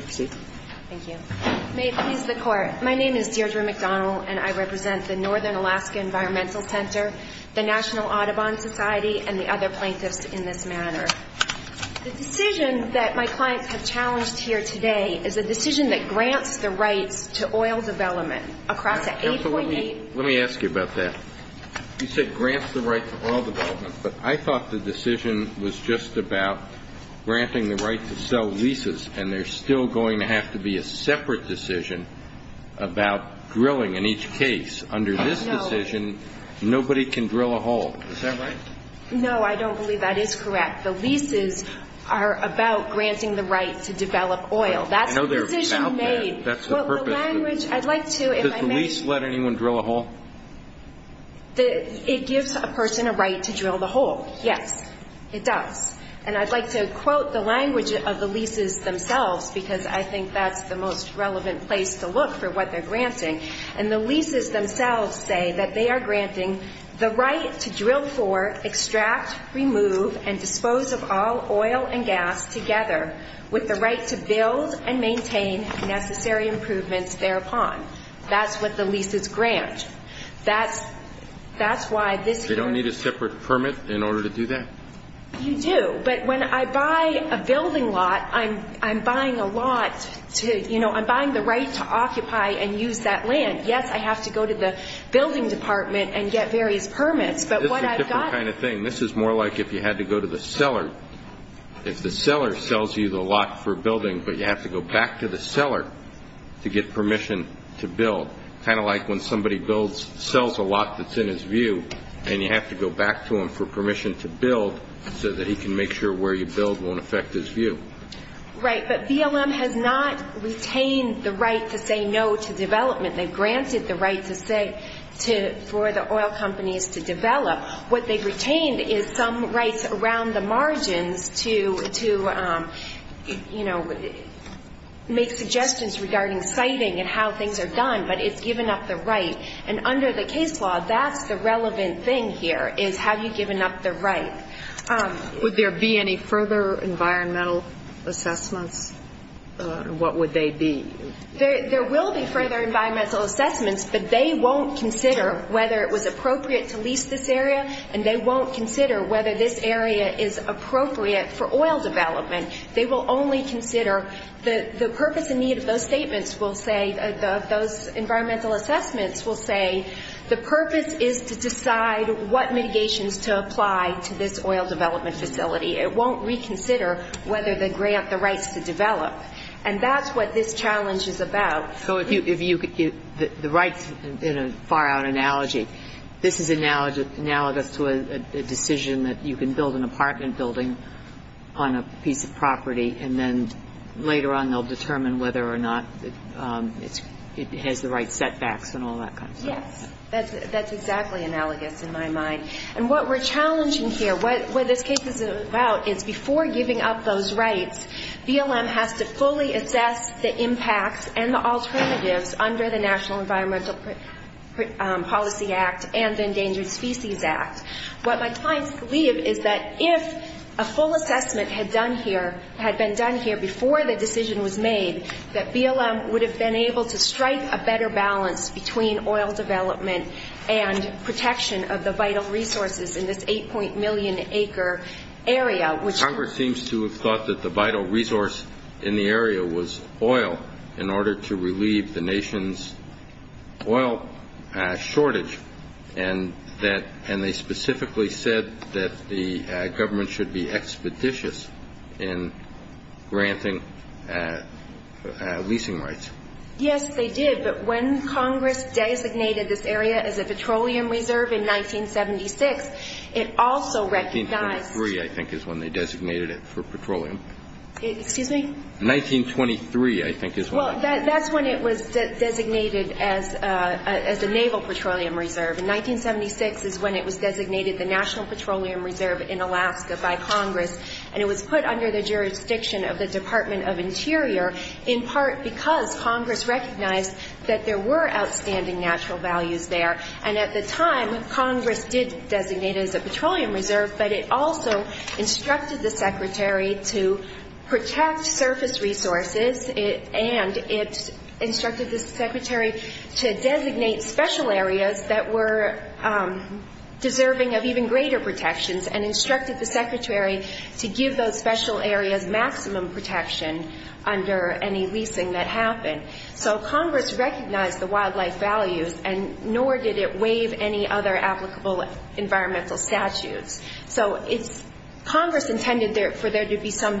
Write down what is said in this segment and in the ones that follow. May it please the Court, my name is Deirdre McDonald, and I represent the Northern Alaska Environmental Center, the National Audubon Society, and the other plaintiffs in this matter. The decision that my clients have challenged here today is a decision that grants the rights to oil development across an 8.8... Counsel, let me ask you about that. You said grants the right to oil development, but I thought the decision was just about granting the right to sell leases, and there's still going to have to be a separate decision about drilling in each case. Under this decision, nobody can drill a hole. Is that right? No, I don't believe that is correct. The leases are about granting the right to develop oil. That's the decision made. I know they're about that. That's the purpose. But the language, I'd like to... Does the lease let anyone drill a hole? It gives a person a right to drill the hole. Yes, it does. And I'd like to quote the language of the leases themselves, because I think that's the most relevant place to look for what they're granting. And the leases themselves say that they are granting the right to drill for, extract, remove, and dispose of all oil and gas together with the right to build and maintain necessary improvements thereupon. That's what the leases grant. That's why this... They don't need a separate permit in order to do that? You do. But when I buy a building lot, I'm buying a lot to... I'm buying the right to occupy and use that land. Yes, I have to go to the building department and get various permits, but what I've got... This is a different kind of thing. This is more like if you had to go to the seller. If the seller sells you the lot for a building, but you have to go back to the seller to get permission to build, kind of like when somebody sells a lot that's in his view, and you have to go back to him for permission to build so that he can make sure where you build won't affect his view. Right, but BLM has not retained the right to say no to development. They've granted the right for the oil companies to develop. What they've retained is some rights around the margins to make suggestions regarding siting and how things are done, but it's given up the right. And under the case law, that's the relevant thing here, is have you given up the right. Would there be any further environmental assessments? What would they be? There will be further environmental assessments, but they won't consider whether it was appropriate to lease this area, and they won't consider whether this area is appropriate for oil development. They will only consider... The purpose and need of those statements will say, of those environmental assessments will say, the purpose is to decide what mitigations to apply to this oil development facility. It won't reconsider whether they grant the rights to develop. And that's what this challenge is about. So if you could give the rights in a far-out analogy. This is analogous to a decision that you can build an apartment building on a piece of property and then later on they'll determine whether or not it has the right setbacks and all that kind of stuff. Yes. That's exactly analogous in my mind. And what we're challenging here, what this case is about, is before giving up those rights, BLM has to fully assess the impacts and the alternatives under the National Environmental Policy Act and the Endangered Species Act. What my clients believe is that if a full assessment had been done here before the decision was made, that BLM would have been able to strike a better balance between oil development and protection of the vital resources in this 8. million acre area. Congress seems to have thought that the vital resource in the area was oil in order to relieve the nation's oil shortage and they specifically said that the government should be expeditious in granting leasing rights. Yes, they did. But when Congress designated this area as a petroleum reserve in 1976, it also recognized 1923, I think, is when they designated it for petroleum. Excuse me? Well, that's when it was designated as a naval petroleum reserve. In 1976 is when it was designated the National Petroleum Reserve in Alaska by Congress and it was put under the jurisdiction of the Department of Interior, in part because Congress recognized that there were outstanding natural values there. And at the time, Congress did designate it as a petroleum reserve, but it also instructed the Secretary to protect surface resources and it instructed the Secretary to designate special areas that were deserving of even greater protections and instructed the Secretary to give those special areas maximum protection under any leasing that happened. So Congress recognized the wildlife values and nor did it waive any other applicable environmental statutes. So Congress intended for there to be some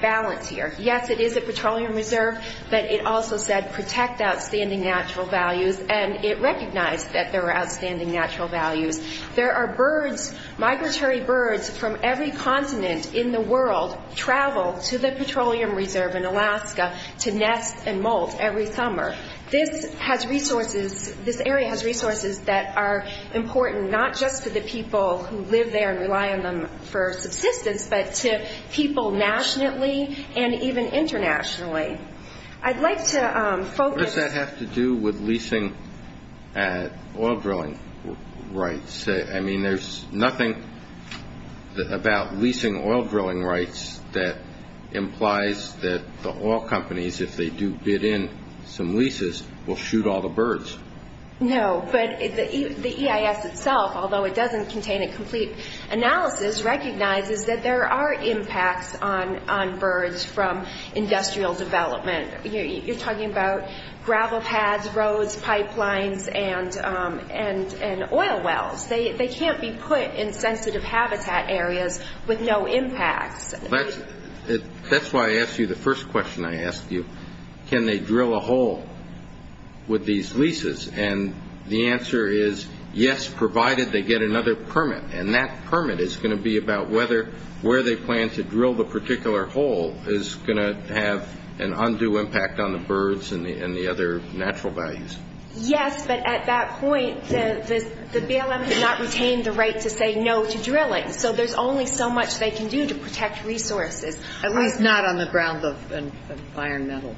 balance here. Yes, it is a petroleum reserve, but it also said protect outstanding natural values and it recognized that there were outstanding natural values. There are birds, migratory birds, from every continent in the world travel to the petroleum reserve in Alaska to nest and molt every summer. This has resources, this area has resources that are important, not just to the people who live there and rely on them for subsistence, but to people nationally and even internationally. I'd like to focus... What does that have to do with leasing oil drilling rights? I mean, there's nothing about leasing oil drilling rights that implies that the oil companies, if they do bid in some leases, will shoot all the birds. No, but the EIS itself, although it doesn't contain a complete analysis, recognizes that there are impacts on birds from industrial development. You're talking about gravel paths, roads, pipelines, and oil wells. They can't be put in sensitive habitat areas with no impacts. That's why I asked you the first question I asked you. Can they drill a hole with these leases? And the answer is yes, provided they get another permit, and that permit is going to be about whether where they plan to drill the particular hole is going to have an undue impact on the birds and the other natural values. Yes, but at that point, the BLM has not retained the right to say no to drilling, so there's only so much they can do to protect resources. At least not on the grounds of iron metal.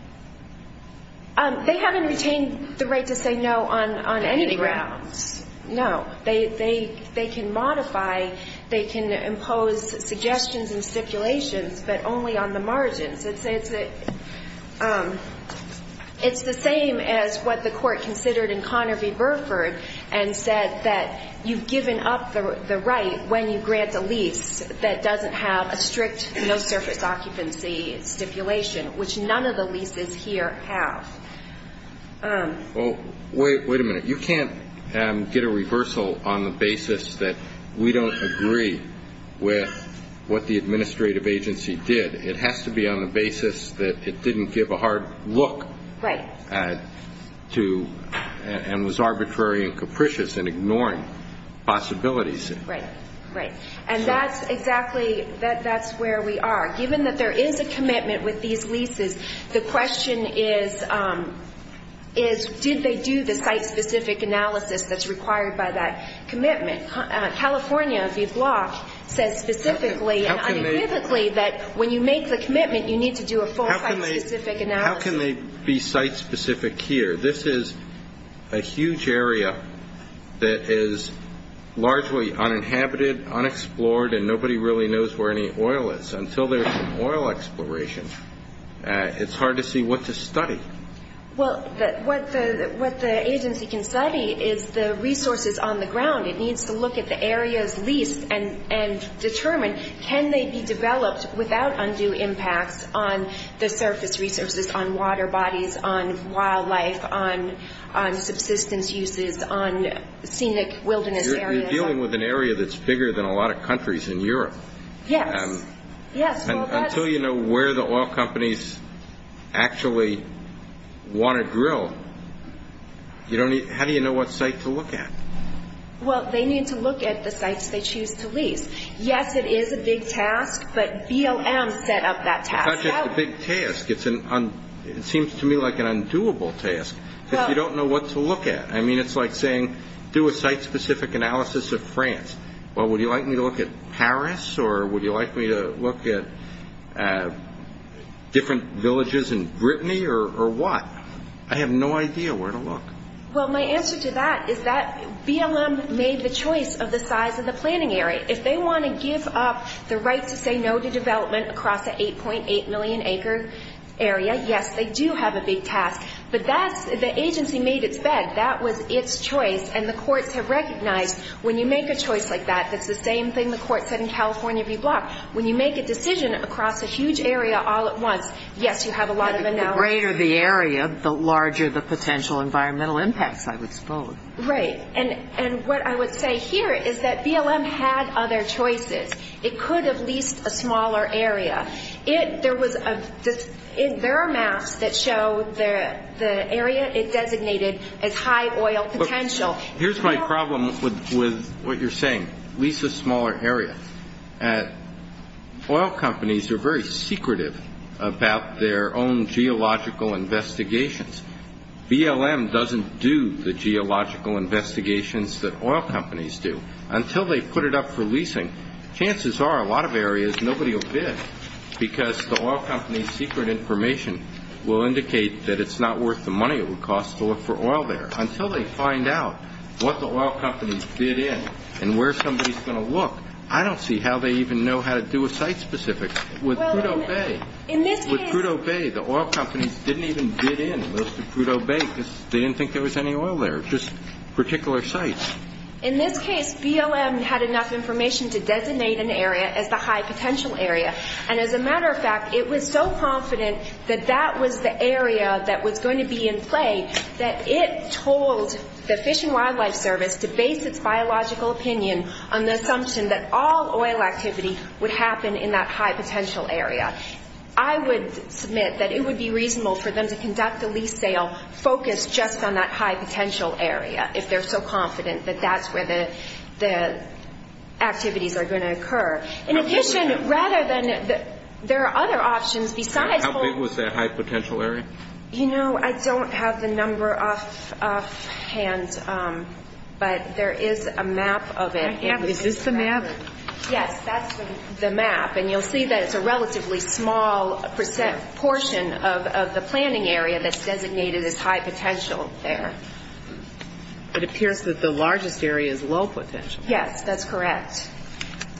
They haven't retained the right to say no on any grounds. Any grounds. No. They can modify, they can impose suggestions and stipulations, but only on the margins. It's the same as what the court considered in Conner v. Burford and said that you've given up the right when you grant a lease that doesn't have a strict, no-surface occupancy stipulation, which none of the leases here have. Wait a minute. You can't get a reversal on the basis that we don't agree with what the administrative agency did. It has to be on the basis that it didn't give a hard look and was arbitrary and capricious in ignoring possibilities. Right, right. And that's exactly where we are. Given that there is a commitment with these leases, the question is, did they do the site-specific analysis that's required by that commitment? California, if you'd block, says specifically and unambiguously that when you make the commitment, you need to do a full site-specific analysis. How can they be site-specific here? This is a huge area that is largely uninhabited, unexplored, and nobody really knows where any oil is. Until there's some oil exploration, it's hard to see what to study. Well, what the agency can study is the resources on the ground. It needs to look at the area's lease and determine can they be developed without undue impacts on the surface resources, on water bodies, on wildlife, on subsistence uses, on scenic wilderness areas. You're dealing with an area that's bigger than a lot of countries in Europe. Yes, yes. Until you know where the oil companies actually want to drill, how do you know what site to look at? Well, they need to look at the sites they choose to lease. Yes, it is a big task, but BLM set up that task. It's not just a big task. It seems to me like an undoable task because you don't know what to look at. I mean, it's like saying do a site-specific analysis of France. Well, would you like me to look at Paris, or would you like me to look at different villages in Brittany, or what? I have no idea where to look. Well, my answer to that is that BLM made the choice of the size of the planning area. If they want to give up the right to say no to development across an 8.8 million acre area, yes, they do have a big task. But that's the agency made its bed. That was its choice, and the courts have recognized when you make a choice like that, that's the same thing the court said in California v. Block. When you make a decision across a huge area all at once, yes, you have a lot of analysis. The greater the area, the larger the potential environmental impacts, I would suppose. Right. And what I would say here is that BLM had other choices. It could have leased a smaller area. There are maps that show the area it designated as high oil potential. Here's my problem with what you're saying. Lease a smaller area. Oil companies are very secretive about their own geological investigations. BLM doesn't do the geological investigations that oil companies do. Until they put it up for leasing, chances are a lot of areas nobody will bid because the oil company's secret information will indicate that it's not worth the money it would cost to look for oil there. Until they find out what the oil companies bid in and where somebody's going to look, I don't see how they even know how to do a site-specific. With Crudeau Bay, the oil companies didn't even bid in most of Crudeau Bay because they didn't think there was any oil there, just particular sites. In this case, BLM had enough information to designate an area as the high potential area. And as a matter of fact, it was so confident that that was the area that was going to be in play that it told the Fish and Wildlife Service to base its biological opinion on the assumption that all oil activity would happen in that high potential area. I would submit that it would be reasonable for them to conduct the lease sale focused just on that high potential area if they're so confident that that's where the activities are going to occur. In addition, rather than there are other options besides... How big was that high potential area? You know, I don't have the number offhand, but there is a map of it. Is this the map? Yes, that's the map, and you'll see that it's a relatively small portion of the planning area that's designated as high potential there. It appears that the largest area is low potential. Yes, that's correct.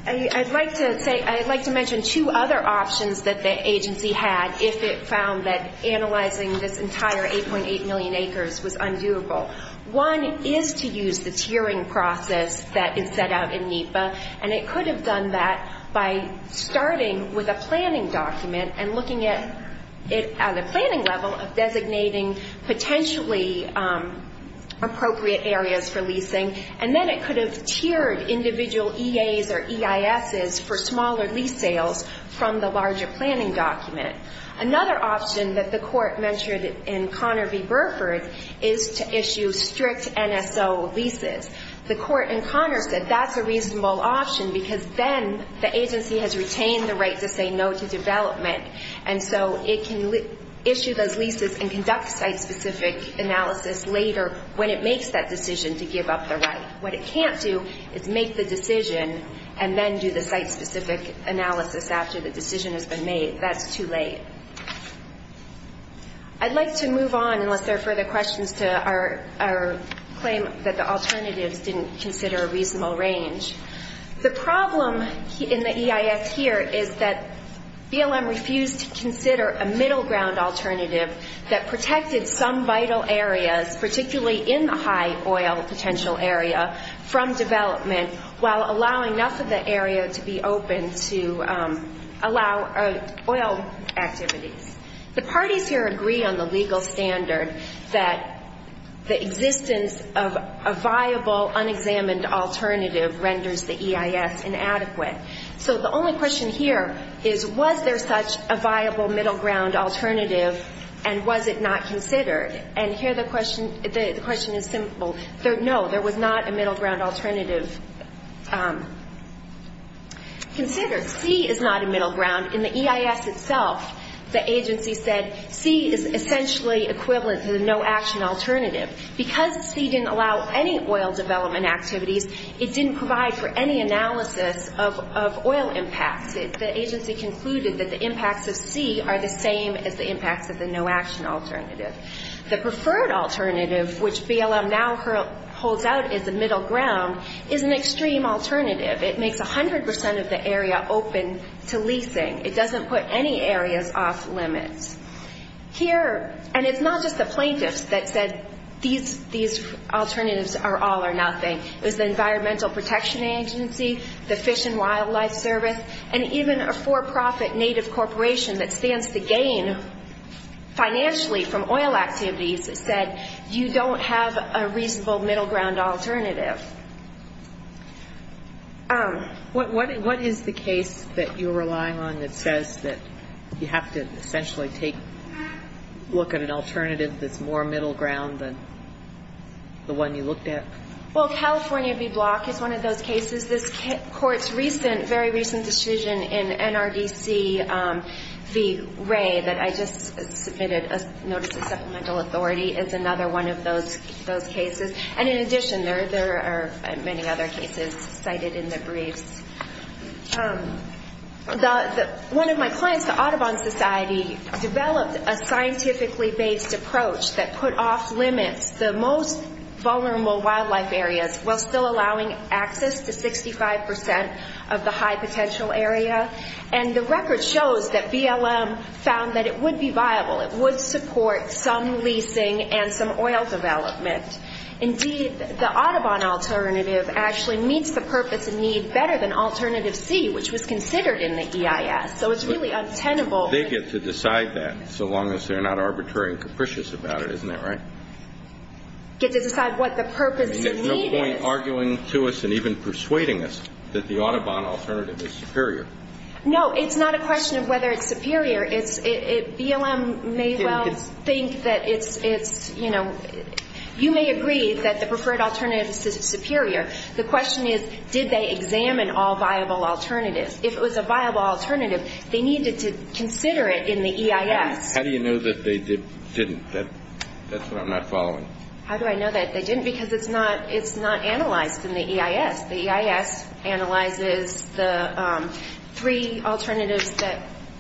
I'd like to mention two other options that the agency had if it found that analyzing this entire 8.8 million acres was undoable. One is to use the tiering process that is set out in NEPA, and it could have done that by starting with a planning document and looking at it at a planning level of designating potentially appropriate areas for leasing, and then it could have tiered individual EAs or EISs for smaller lease sales from the larger planning document. Another option that the court mentioned in Conner v. Burford is to issue strict NSO leases. The court in Conner said that's a reasonable option, because then the agency has retained the right to say no to development, and so it can issue those leases and conduct site-specific analysis later when it makes that decision to give up the right. What it can't do is make the decision and then do the site-specific analysis after the decision has been made. That's too late. I'd like to move on, unless there are further questions, to our claim that the alternatives didn't consider a reasonable range. The problem in the EIS here is that BLM refused to consider a middle ground alternative that protected some vital areas, particularly in the high oil potential area, from development, while allowing enough of the area to be open to allow oil activities. The parties here agree on the legal standard that the existence of a viable, unexamined alternative renders the EIS inadequate. So the only question here is, was there such a viable middle ground alternative, and was it not considered? And here the question is simple. No, there was not a middle ground alternative. Consider, C is not a middle ground. In the EIS itself, the agency said C is essentially equivalent to the no-action alternative. Because C didn't allow any oil development activities, it didn't provide for any analysis of oil impacts. The agency concluded that the impacts of C are the same as the impacts of the no-action alternative. The preferred alternative, which BLM now holds out as a middle ground, is an extreme alternative. It makes 100% of the area open to leasing. It doesn't put any areas off limits. Here, and it's not just the plaintiffs that said these alternatives are all or nothing. It was the Environmental Protection Agency, the Fish and Wildlife Service, and even a for-profit native corporation that stands to gain financially from oil activities that said you don't have a reasonable middle ground alternative. What is the case that you're relying on that says that you have to essentially take a look at an alternative that's more middle ground than the one you looked at? Well, California v. Block is one of those cases. V. Ray, that I just submitted a notice of supplemental authority, is another one of those cases. And in addition, there are many other cases cited in the briefs. One of my clients, the Audubon Society, developed a scientifically-based approach that put off limits the most vulnerable wildlife areas while still allowing access to 65% of the high-potential area. And the record shows that BLM found that it would be viable. It would support some leasing and some oil development. Indeed, the Audubon alternative actually meets the purpose and need better than Alternative C, which was considered in the EIS. So it's really untenable. They get to decide that, so long as they're not arbitrary and capricious about it, isn't that right? They get to decide what the purpose and need is. I mean, there's no point arguing to us and even persuading us that the Audubon alternative is superior. No, it's not a question of whether it's superior. BLM may well think that it's, you know, you may agree that the preferred alternative is superior. The question is, did they examine all viable alternatives? If it was a viable alternative, they needed to consider it in the EIS. How do you know that they didn't? That's what I'm not following. How do I know that they didn't? Because it's not analyzed in the EIS. The EIS analyzes the three alternatives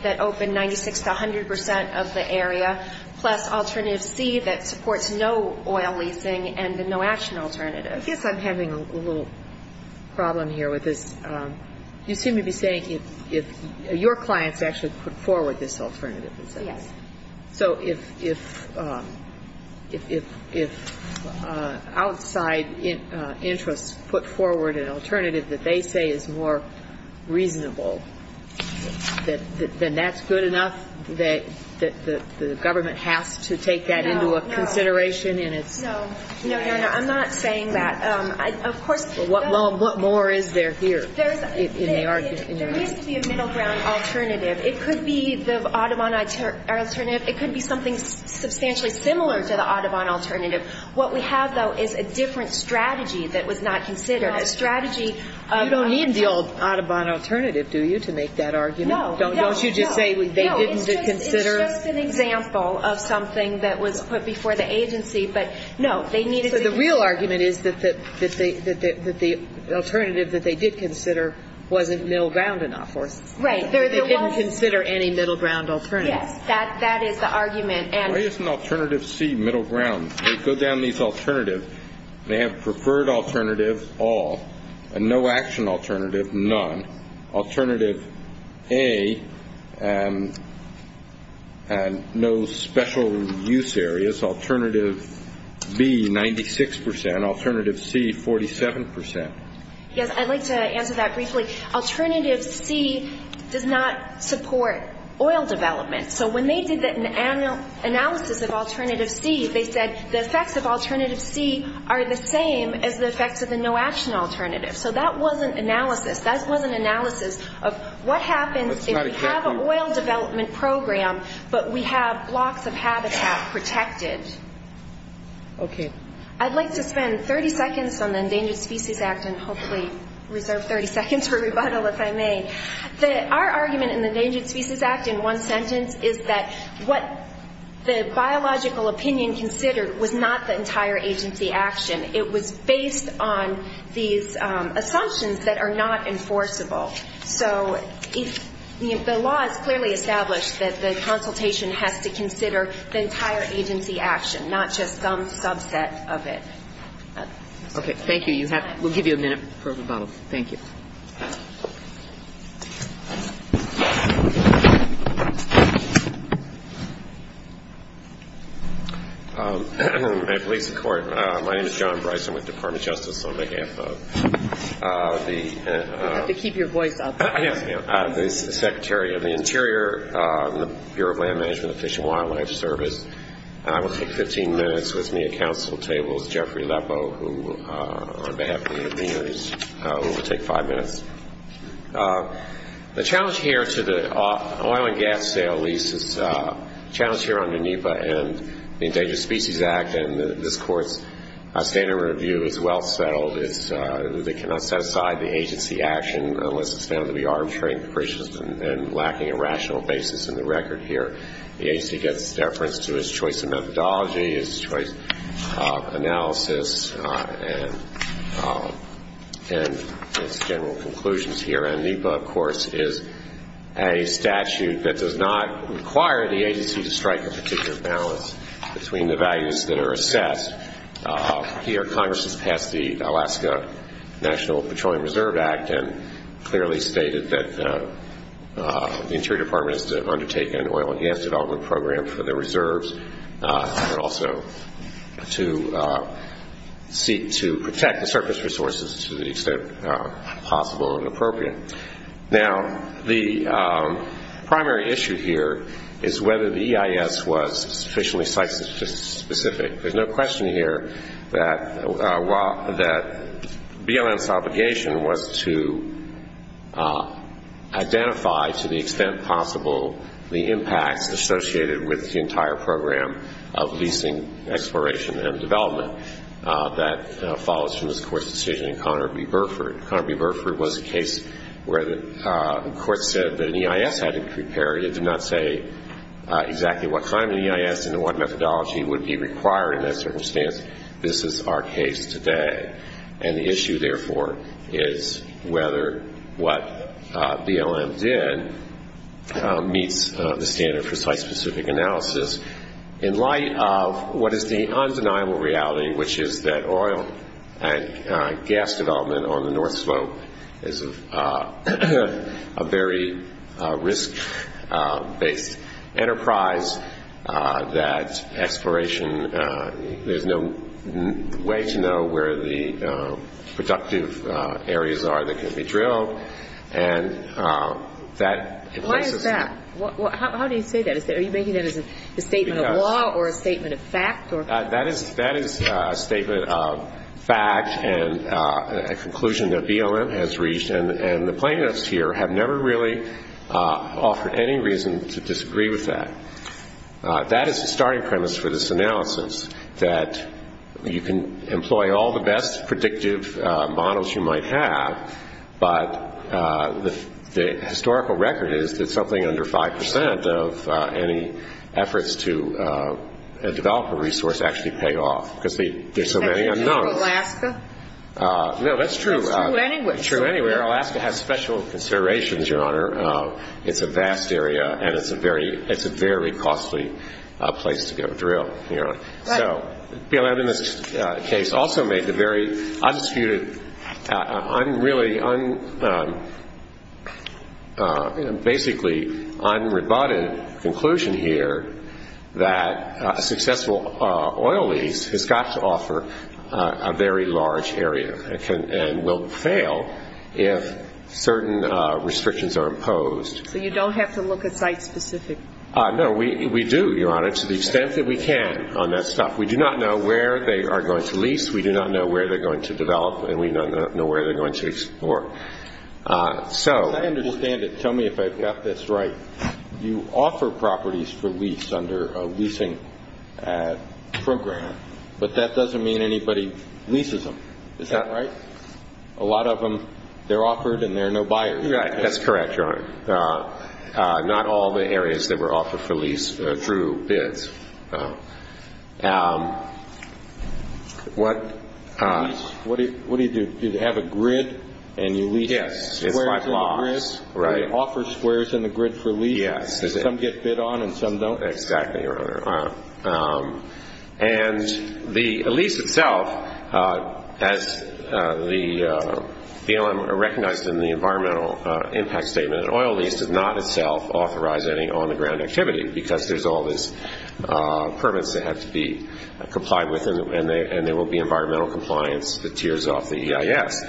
that open 96 to 100% of the area, plus Alternative C that supports no oil leasing and the no-action alternative. I guess I'm having a little problem here with this. You seem to be saying if your clients actually put forward this alternative, is that right? Yes. So if outside interests put forward an alternative that they say is more reasonable, then that's good enough that the government has to take that into a consideration in its? No, I'm not saying that. What more is there here? There needs to be a middle ground alternative. It could be the Audubon alternative. It could be something substantially similar to the Audubon alternative. What we have, though, is a different strategy that was not considered. You don't need the old Audubon alternative, do you, to make that argument? No. Don't you just say they didn't consider it? No, it's just an example of something that was put before the agency, but no, they needed to consider it. But the real argument is that the alternative that they did consider wasn't middle ground enough for us. Yes, I'd like to answer that briefly. Alternative C does not support oil development. So when they did the analysis of Alternative C, they said the effects of Alternative C are the same as the effects of the no-action alternative. So that wasn't analysis. That wasn't analysis of what happens if we have an oil development program, but we have blocks of habitat protected. I'd like to spend 30 seconds on the Endangered Species Act and hopefully reserve 30 seconds for rebuttal, if I may. Our argument in the Endangered Species Act in one sentence is that what the biological opinion considered was not the entire agency action. It was based on these assumptions that are not enforceable. So if the law is clearly established that the consultation has to consider the entire agency action, not just some subset of it. Okay. Thank you. We'll give you a minute for rebuttal. Thank you. My name is John Bryson with the Department of Justice on behalf of the... You have to keep your voice up. ...Secretary of the Interior Bureau of Land Management and Fish and Wildlife Service. I will take 15 minutes with me at council tables, Jeffrey Lepo, who on behalf of the engineers will take five minutes. The challenge here to the oil and gas sale lease is a challenge here under NEPA and the Endangered Species Act, and this Court's standard review is well settled. They cannot set aside the agency action unless it's found to be arbitrary and capricious and lacking a rational basis in the record here. The agency gets deference to its choice of methodology, its choice of analysis, and its general conclusions here. And NEPA, of course, is a statute that does not require the agency to strike a particular balance between the values that are assessed. Here Congress has passed the Alaska National Petroleum Reserve Act and clearly stated that the Interior Department has to undertake an oil and gas development program for the reserves, but also to seek to protect the surface resources to the extent possible and appropriate. Now, the primary issue here is whether the EIS was sufficiently site-specific. There's no question here that BLM's obligation was to identify to the extent possible the impacts associated with the entire program of leasing, exploration, and development. That follows from this Court's decision in Conner v. Burford. Conner v. Burford was a case where the Court said that an EIS had to be prepared. It did not say exactly what kind of EIS and what methodology would be required in that circumstance. This is our case today. And the issue, therefore, is whether what BLM did meets the standard of site-specific analysis in light of what is the undeniable reality, which is that oil and gas development on the North Slope is a very risk-based enterprise, that exploration, there's no way to know and that... Why is that? How do you say that? Are you making that as a statement of law or a statement of fact? That is a statement of fact and a conclusion that BLM has reached, and the plaintiffs here have never really offered any reason to disagree with that. That is the starting premise for this analysis, that you can employ all the best predictive models you might have, but the historical record is that something under 5 percent of any efforts to develop a resource actually pay off, because there's so many unknowns. No, that's true. It's true anywhere. Alaska has special considerations, Your Honor. It's a vast area, and it's a very costly place to go drill, Your Honor. So BLM in this case also made the very undisputed, basically unrebutted conclusion here that a successful oil lease has got to offer a very large area and will fail if certain restrictions are imposed. So you don't have to look at site-specific? No, we do, Your Honor, to the extent that we can on that stuff. We do not know where they are going to lease, we do not know where they're going to develop, and we do not know where they're going to explore. I understand it. Tell me if I've got this right. You offer properties for lease under a leasing program, but that doesn't mean anybody leases them. Is that right? A lot of them, they're offered and there are no buyers. That's correct, Your Honor. Not all the areas that were offered for lease through bids. What do you do? Do you have a grid and you lease squares in the grid? Do you offer squares in the grid for lease because some get bid on and some don't? Exactly, Your Honor. And the lease itself, as BLM recognized in the environmental impact statement, an oil lease does not itself authorize any on-the-ground activity because there's all these permits that have to be complied with and there will be environmental compliance that tears off the EIS.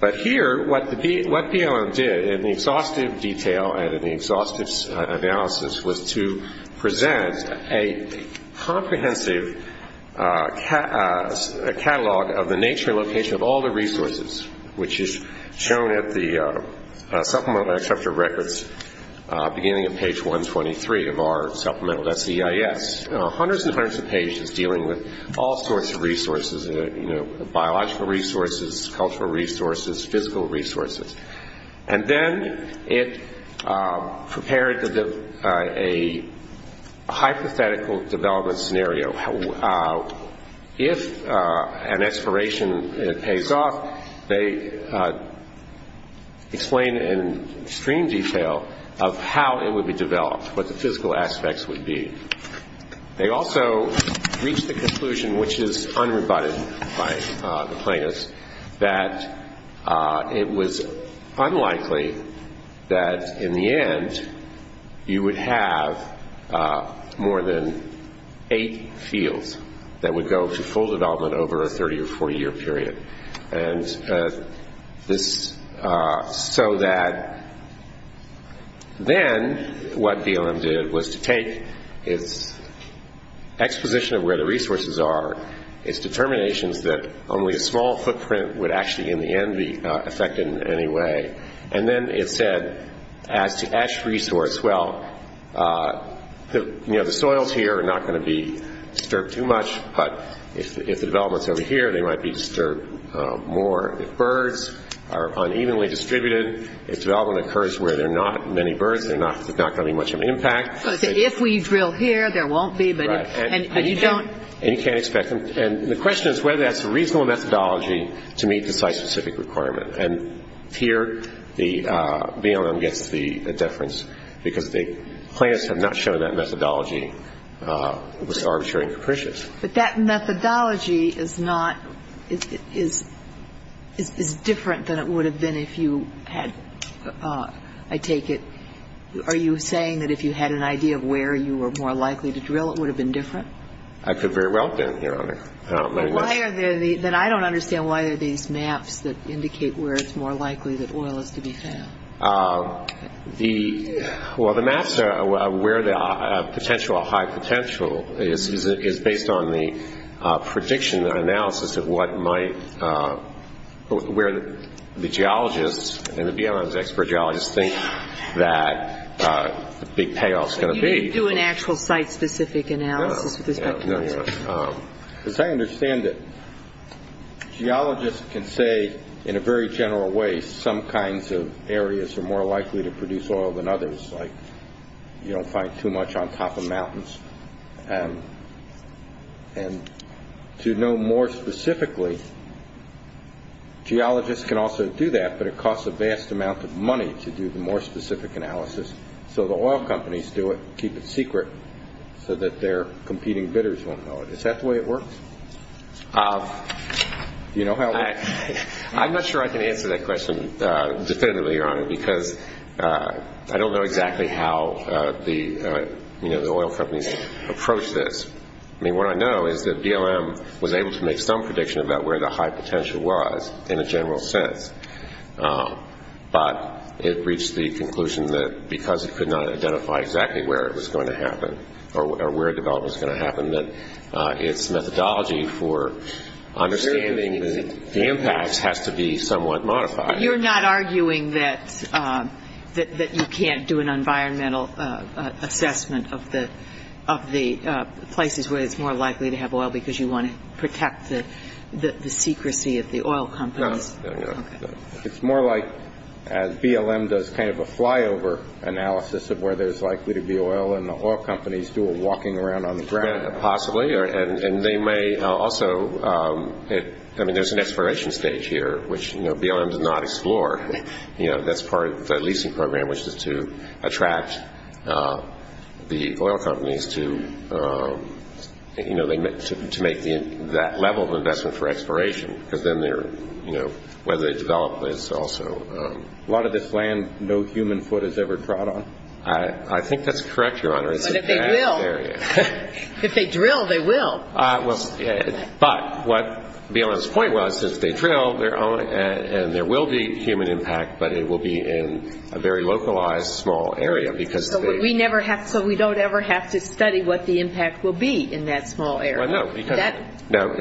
But here, what BLM did in the exhaustive detail and in the exhaustive analysis was to present a comprehensive catalog of the nature and location of all the resources, which is shown at the supplemental extractor records beginning at page 123 of our supplemental SEIS. Hundreds and hundreds of pages dealing with all sorts of resources, biological resources, cultural resources, physical resources. And then it prepared a hypothetical development scenario. If an expiration pays off, they explain in extreme detail of how it would be developed, what the physical aspects would be. They also reached the conclusion, which is unrebutted by the plaintiffs, that it was unlikely that in the end you would have more than eight fields that would go to full development over a 30- or 40-year period. Then what BLM did was to take its exposition of where the resources are, its determinations that only a small footprint would actually in the end be affected in any way, and then it said as to ash resource, well, the soils here are not going to be disturbed too much, but if the development's over here, they might be disturbed more. If birds are unevenly distributed, if development occurs where there are not many birds, there's not going to be much of an impact. But if we drill here, there won't be. And you can't expect them. And the question is whether that's a reasonable methodology to meet the site-specific requirement. And here BLM gets the deference, because the plaintiffs have not shown that methodology was arbitrary and capricious. But that methodology is different than it would have been if you had, I take it, Are you saying that if you had an idea of where you were more likely to drill, it would have been different? I could very well have been, Your Honor. Then I don't understand why there are these maps that indicate where it's more likely that oil is to be found. Well, the maps are where the potential or high potential is based on the prediction or analysis of what might, where the geologists and the BLM's expert geologists think that the big payoff is going to be. You didn't do an actual site-specific analysis with respect to oil? As I understand it, geologists can say in a very general way, some kinds of areas are more likely to produce oil than others, like you don't find too much on top of mountains. And to know more specifically, geologists can also do that, but it costs a vast amount of money to do the more specific analysis. So the oil companies do it, keep it secret, so that their competing bidders won't know it. Is that the way it works? I'm not sure I can answer that question definitively, Your Honor, because I don't know exactly how the oil companies approach this. What I know is that BLM was able to make some prediction about where the high potential was in a general sense, but it reached the conclusion that because it could not identify exactly where it was going to happen that its methodology for understanding the impacts has to be somewhat modified. You're not arguing that you can't do an environmental assessment of the places where it's more likely to have oil because you want to protect the secrecy of the oil companies? No. It's more like BLM does kind of a flyover analysis of where there's likely to be oil, and the oil companies do a walking around on the ground. There's an exploration stage here, which BLM does not explore. That's part of the leasing program, which is to attract the oil companies to make that level of investment for exploration. A lot of this land no human foot has ever trod on? I think that's correct, Your Honor. But if they drill, they will. But what BLM's point was is they drill, and there will be human impact, but it will be in a very localized, small area. So we don't ever have to study what the impact will be in that small area? Well, no.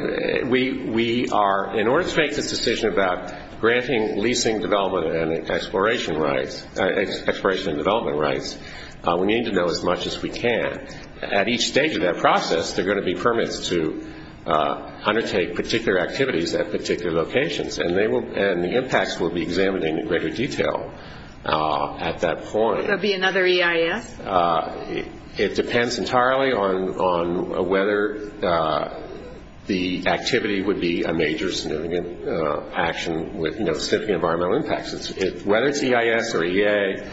In order to make this decision about granting leasing development and exploration rights, we need to know as much as we can. At each stage of that process, there are going to be permits to undertake particular activities at particular locations, and the impacts will be examined in greater detail at that point. Will there be another EIS? It depends entirely on whether the activity would be a major, significant action with significant environmental impacts. Whether it's EIS or EA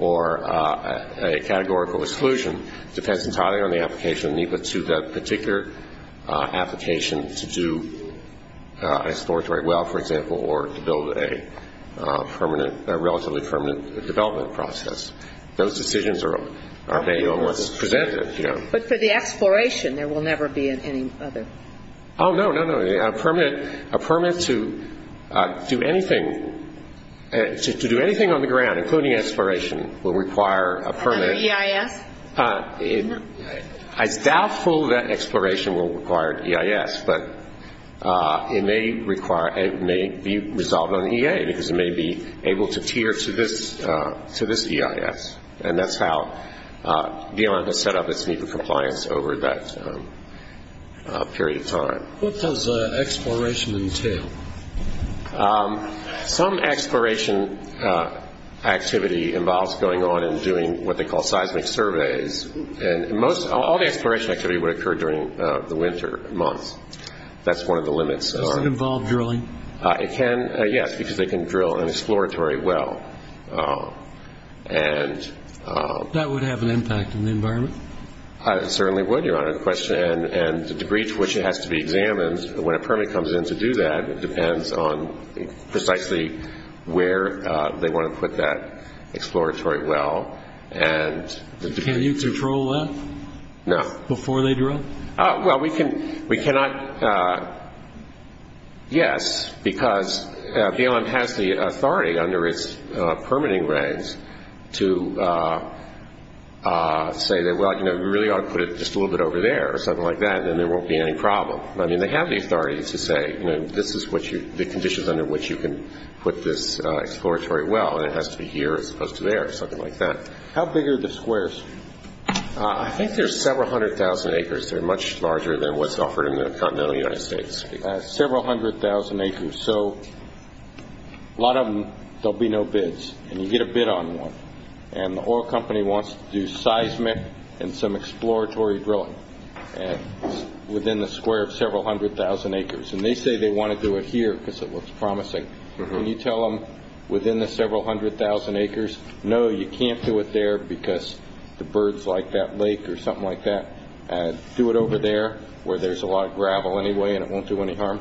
or a categorical exclusion depends entirely on the application of NEPA to that particular application to do a exploratory well, for example, or to build a relatively permanent development process. Those decisions are made almost presented. But for the exploration, there will never be any other? Oh, no, no, no. A permit to do anything on the ground, including exploration, will require a permit. Another EIS? It's doubtful that exploration will require EIS, but it may be resolved on EA, because it may be able to tier to this EIS. And that's how DLM has set up its NEPA compliance over that period of time. What does exploration entail? Some exploration activity involves going on and doing what they call seismic surveys, and all the exploration activity would occur during the winter months. That's one of the limits. Does it involve drilling? Yes, because they can drill an exploratory well. That would have an impact on the environment? It certainly would, Your Honor. And the degree to which it has to be examined, when a permit comes in to do that, it depends on precisely where they want to put that exploratory well. Can you control that before they drill? Well, we cannot, yes, because DLM has the authority under its permitting regs to say that, well, you know, we really ought to put it just a little bit over there or something like that, and then there won't be any problem. I mean, they have the authority to say, you know, this is the conditions under which you can put this exploratory well, and it has to be here as opposed to there or something like that. How big are the squares? I think they're several hundred thousand acres. They're much larger than what's offered in the continental United States. Several hundred thousand acres. So a lot of them, there will be no bids, and you get a bid on one, and the oil company wants to do seismic and some exploratory drilling within the square of several hundred thousand acres, and they say they want to do it here because it looks promising. Can you tell them within the several hundred thousand acres, no, you can't do it there because the birds like that lake or something like that, do it over there where there's a lot of gravel anyway and it won't do any harm?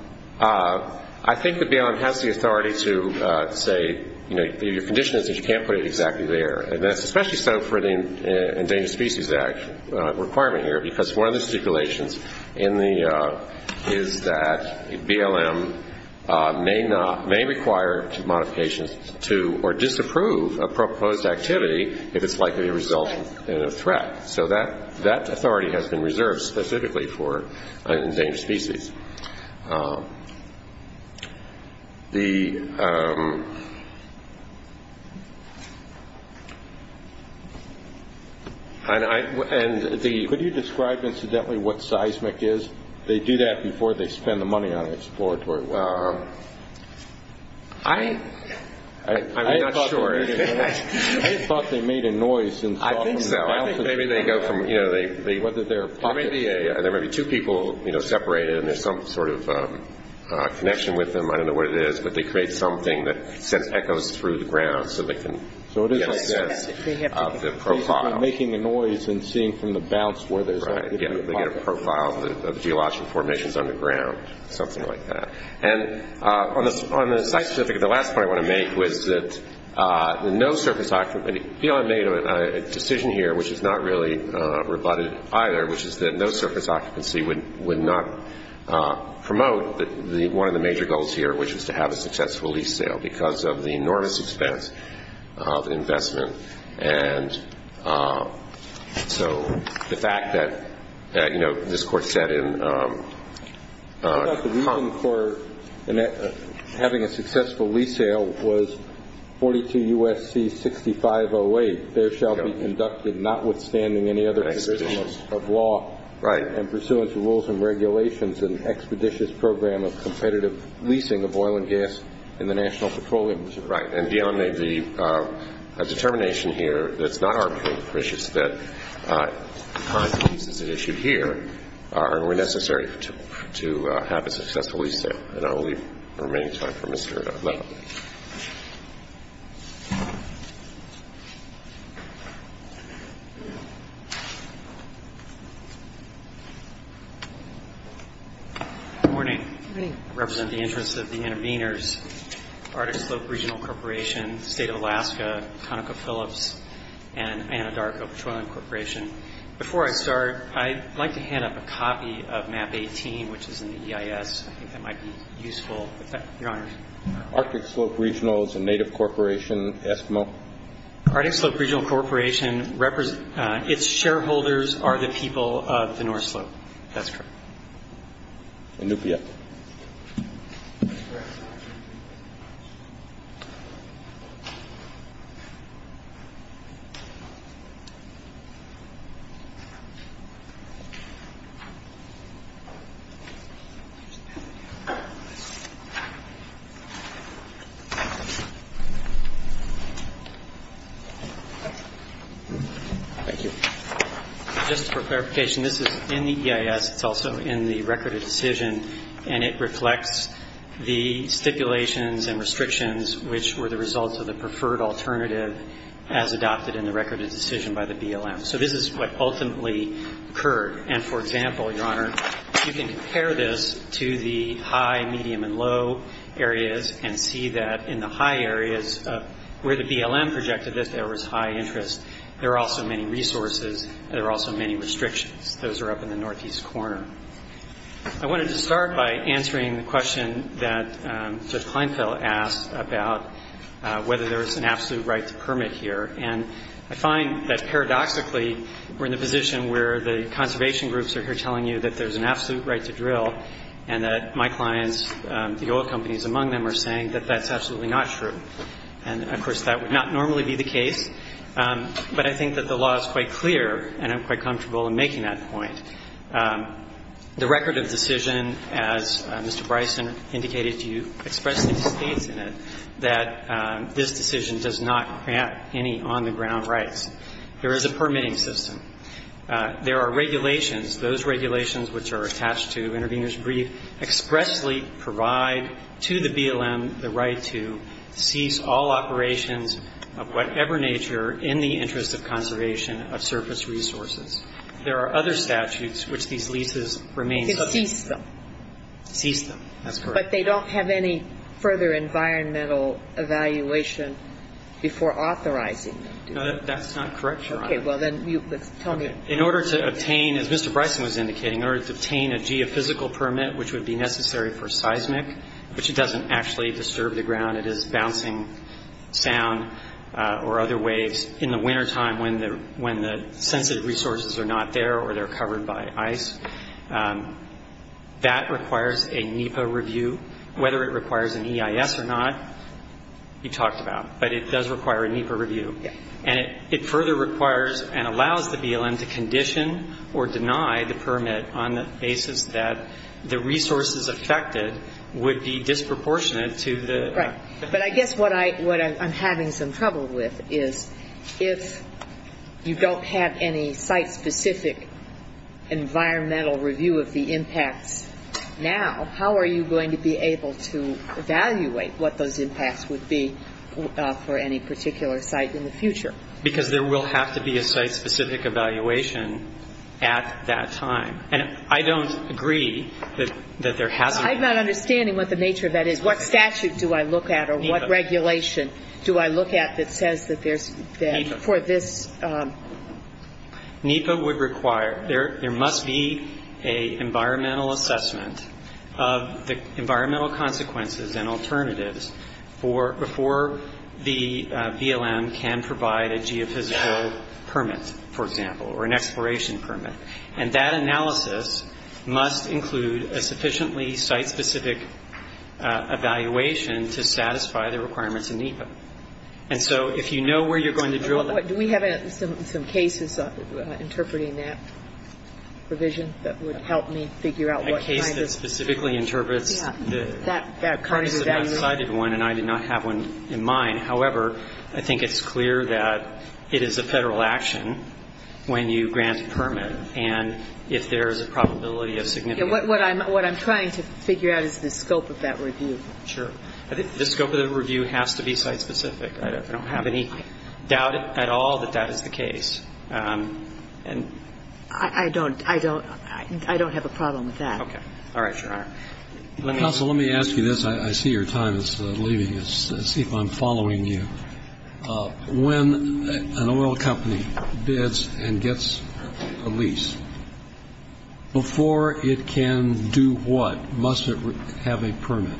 I think the BLM has the authority to say, you know, your condition is that you can't put it exactly there, and that's especially so for the Endangered Species Act requirement here, because one of the stipulations is that BLM may require modifications to or disapprove a proposed activity if it's likely to result in a threat. So that authority has been reserved specifically for Endangered Species. Could you describe incidentally what seismic is? They do that before they spend the money on exploratory work. I'm not sure. I thought they made a noise. I think so. I think maybe they go from, you know, there may be two people, you know, separated, and there's some sort of connection with them, I don't know what it is, but they create something that sends echoes through the ground so they can get a sense of the profile. Making a noise and seeing from the bounce where there's activity. They get a profile of geological formations underground, something like that. And on the site specific, the last point I want to make was that no surface occupancy, BLM made a decision here which is not really rebutted either, which is that no surface occupancy would not promote one of the major goals here, which is to have a successful lease sale because of the enormous expense of investment. And so the fact that, you know, this Court said in the comment. The reason for having a successful lease sale was 42 U.S.C. 6508, notwithstanding any other provisions of law and pursuant to rules and regulations and expeditious program of competitive leasing of oil and gas in the National Petroleum Reserve. Right. And beyond the determination here, it's not arbitrarily precious that the kinds of leases issued here are necessary to have a successful lease sale. And I'll leave the remaining time for Mr. Ledlow. Good morning. Good morning. I represent the interests of the intervenors, Arctic Slope Regional Corporation, State of Alaska, ConocoPhillips, and Anadarko Petroleum Corporation. Before I start, I'd like to hand up a copy of Map 18, which is in the EIS. I think that might be useful. Your Honors. Arctic Slope Regional is a native corporation, Eskimo. Arctic Slope Regional Corporation, its shareholders are the people of the North Slope. That's correct. Inupiat. Thank you. Just for clarification, this is in the EIS. It's also in the Record of Decision. And it reflects the stipulations and restrictions which were the results of the preferred alternative as adopted in the Record of Decision by the BLM. So this is what ultimately occurred. And, for example, Your Honor, you can compare this to the high, medium, and low areas and see that in the high areas where the BLM projected this there was high interest. There are also many resources. There are also many restrictions. Those are up in the northeast corner. I wanted to start by answering the question that Judge Kleinfeld asked about whether there was an absolute right to permit here. And I find that paradoxically we're in the position where the conservation groups are here telling you that there's an absolute right to drill and that my clients, the oil companies among them, are saying that that's absolutely not true. And, of course, that would not normally be the case. But I think that the law is quite clear, and I'm quite comfortable in making that point. The Record of Decision, as Mr. Bryson indicated to you, expressly states in it that this decision does not grant any on-the-ground rights. There is a permitting system. There are regulations. Those regulations which are attached to intervener's brief expressly provide to the BLM the right to cease all operations of whatever nature in the interest of conservation of surface resources. There are other statutes which these leases remain subject to. To cease them. To cease them. That's correct. But they don't have any further environmental evaluation before authorizing them to. No, that's not correct, Your Honor. Okay. Well, then tell me. In order to obtain, as Mr. Bryson was indicating, in order to obtain a geophysical permit, which would be necessary for seismic, which doesn't actually disturb the ground, it is bouncing sound or other waves in the wintertime when the sensitive resources are not there or they're covered by ice. That requires a NEPA review. Whether it requires an EIS or not, you talked about, but it does require a NEPA review. Yes. And it further requires and allows the BLM to condition or deny the permit on the basis that the resources affected would be disproportionate to the. Right. But I guess what I'm having some trouble with is if you don't have any site-specific environmental review of the impacts now, how are you going to be able to evaluate what those impacts would be for any particular site in the future? Because there will have to be a site-specific evaluation at that time. And I don't agree that there hasn't been. I'm not understanding what the nature of that is. What statute do I look at or what regulation do I look at that says that there's. NEPA. NEPA would require, there must be a environmental assessment of the environmental consequences and alternatives before the BLM can provide a geophysical permit, for example, or an exploration permit. And that analysis must include a sufficiently site-specific evaluation to satisfy the requirements of NEPA. And so if you know where you're going to drill that. Do we have some cases interpreting that provision that would help me figure out what kind of. A case that specifically interprets. Yeah. That kind of evaluation. And I did not have one in mind. However, I think it's clear that it is a Federal action when you grant a permit. And if there is a probability of significant. What I'm trying to figure out is the scope of that review. Sure. I think the scope of the review has to be site-specific. I don't have any doubt at all that that is the case. And. I don't. I don't. I don't have a problem with that. Okay. All right, Your Honor. Counsel, let me ask you this. I see your time is leaving. Let's see if I'm following you. When an oil company bids and gets a lease, before it can do what, must it have a permit?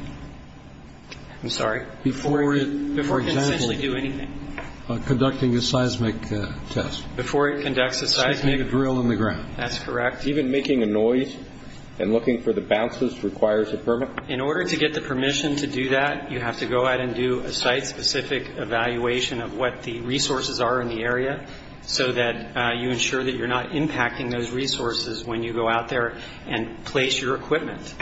I'm sorry. Before it. Before it can essentially do anything. Conducting a seismic test. Before it conducts a seismic. Seismic drill in the ground. That's correct. Even making a noise and looking for the bounces requires a permit? In order to get the permission to do that, you have to go out and do a site-specific evaluation of what the resources are in the area, so that you ensure that you're not impacting those resources when you go out there and place your equipment.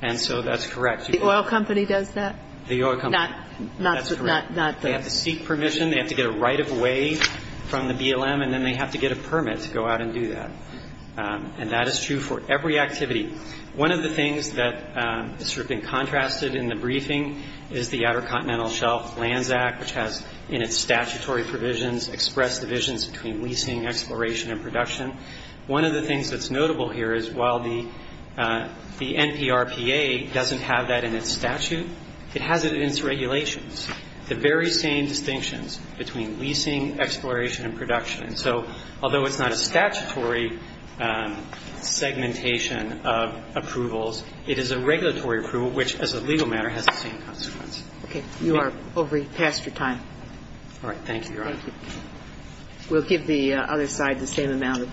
And so that's correct. The oil company does that? The oil company. Not the. That's correct. They have to seek permission. They have to get a right-of-way from the BLM, and then they have to get a permit to go out and do that. And that is true for every activity. One of the things that has sort of been contrasted in the briefing is the Outer Continental Shelf Lands Act, which has in its statutory provisions expressed divisions between leasing, exploration, and production. One of the things that's notable here is while the NPRPA doesn't have that in its statute, it has it in its regulations, the very same distinctions between leasing, exploration, and production. And so although it's not a statutory segmentation of approvals, it is a regulatory approval, which as a legal matter has the same consequence. Okay. You are over past your time. All right. Thank you, Your Honor. Thank you. We'll give the other side the same amount of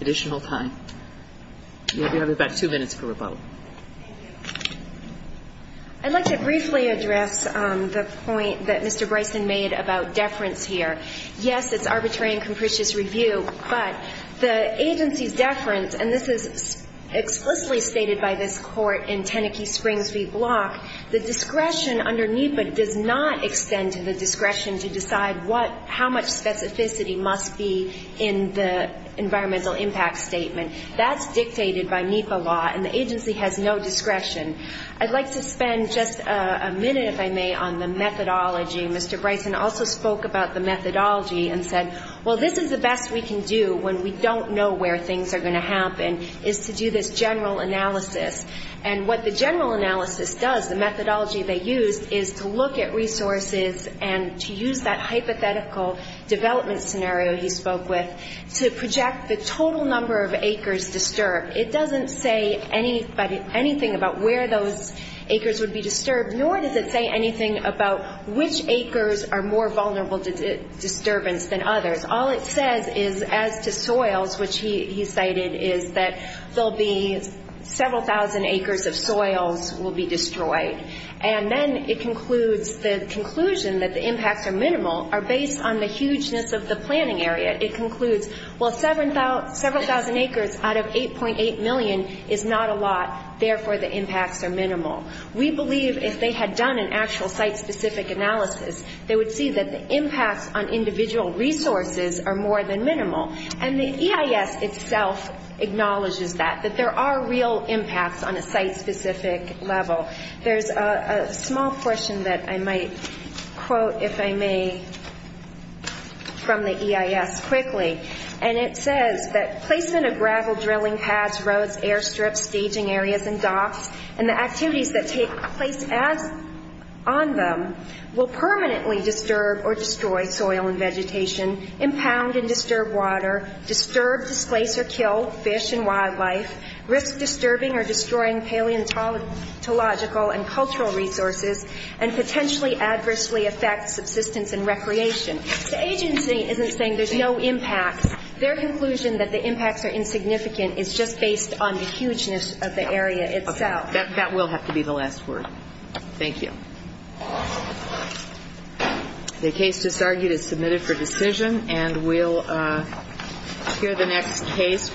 additional time. You have about two minutes for rebuttal. Thank you. I'd like to briefly address the point that Mr. Bryson made about deference here. Yes, it's arbitrary and capricious review, but the agency's deference, and this is explicitly stated by this Court in Tenneckee Springs v. Block, the discretion under NEPA does not extend to the discretion to decide what, how much specificity must be in the environmental impact statement. That's dictated by NEPA law, and the agency has no discretion. I'd like to spend just a minute, if I may, on the methodology. Mr. Bryson also spoke about the methodology and said, well, this is the best we can do when we don't know where things are going to happen, is to do this general analysis. And what the general analysis does, the methodology they used, is to look at resources and to use that hypothetical development scenario he spoke with to project the total number of acres disturbed. It doesn't say anything about where those acres would be disturbed, nor does it say anything about which acres are more vulnerable to disturbance than others. All it says is, as to soils, which he cited, is that there will be several thousand acres of soils will be destroyed. And then it concludes, the conclusion that the impacts are minimal, are based on the hugeness of the planning area. It concludes, well, several thousand acres out of 8.8 million is not a lot, therefore the impacts are minimal. We believe if they had done an actual site-specific analysis, they would see that the impacts on individual resources are more than minimal. And the EIS itself acknowledges that, that there are real impacts on a site-specific level. There's a small portion that I might quote, if I may, from the EIS quickly. And it says that placement of gravel drilling pads, roads, airstrips, staging areas, and docks, and the activities that take place on them will permanently disturb or destroy soil and vegetation, impound and disturb water, disturb, displace, or kill fish and wildlife, risk disturbing or destroying paleontological and cultural resources, and potentially adversely affect subsistence and recreation. The agency isn't saying there's no impacts. Their conclusion that the impacts are insignificant is just based on the hugeness of the area itself. Okay. That will have to be the last word. Thank you. The case disargued is submitted for decision, and we'll hear the next case.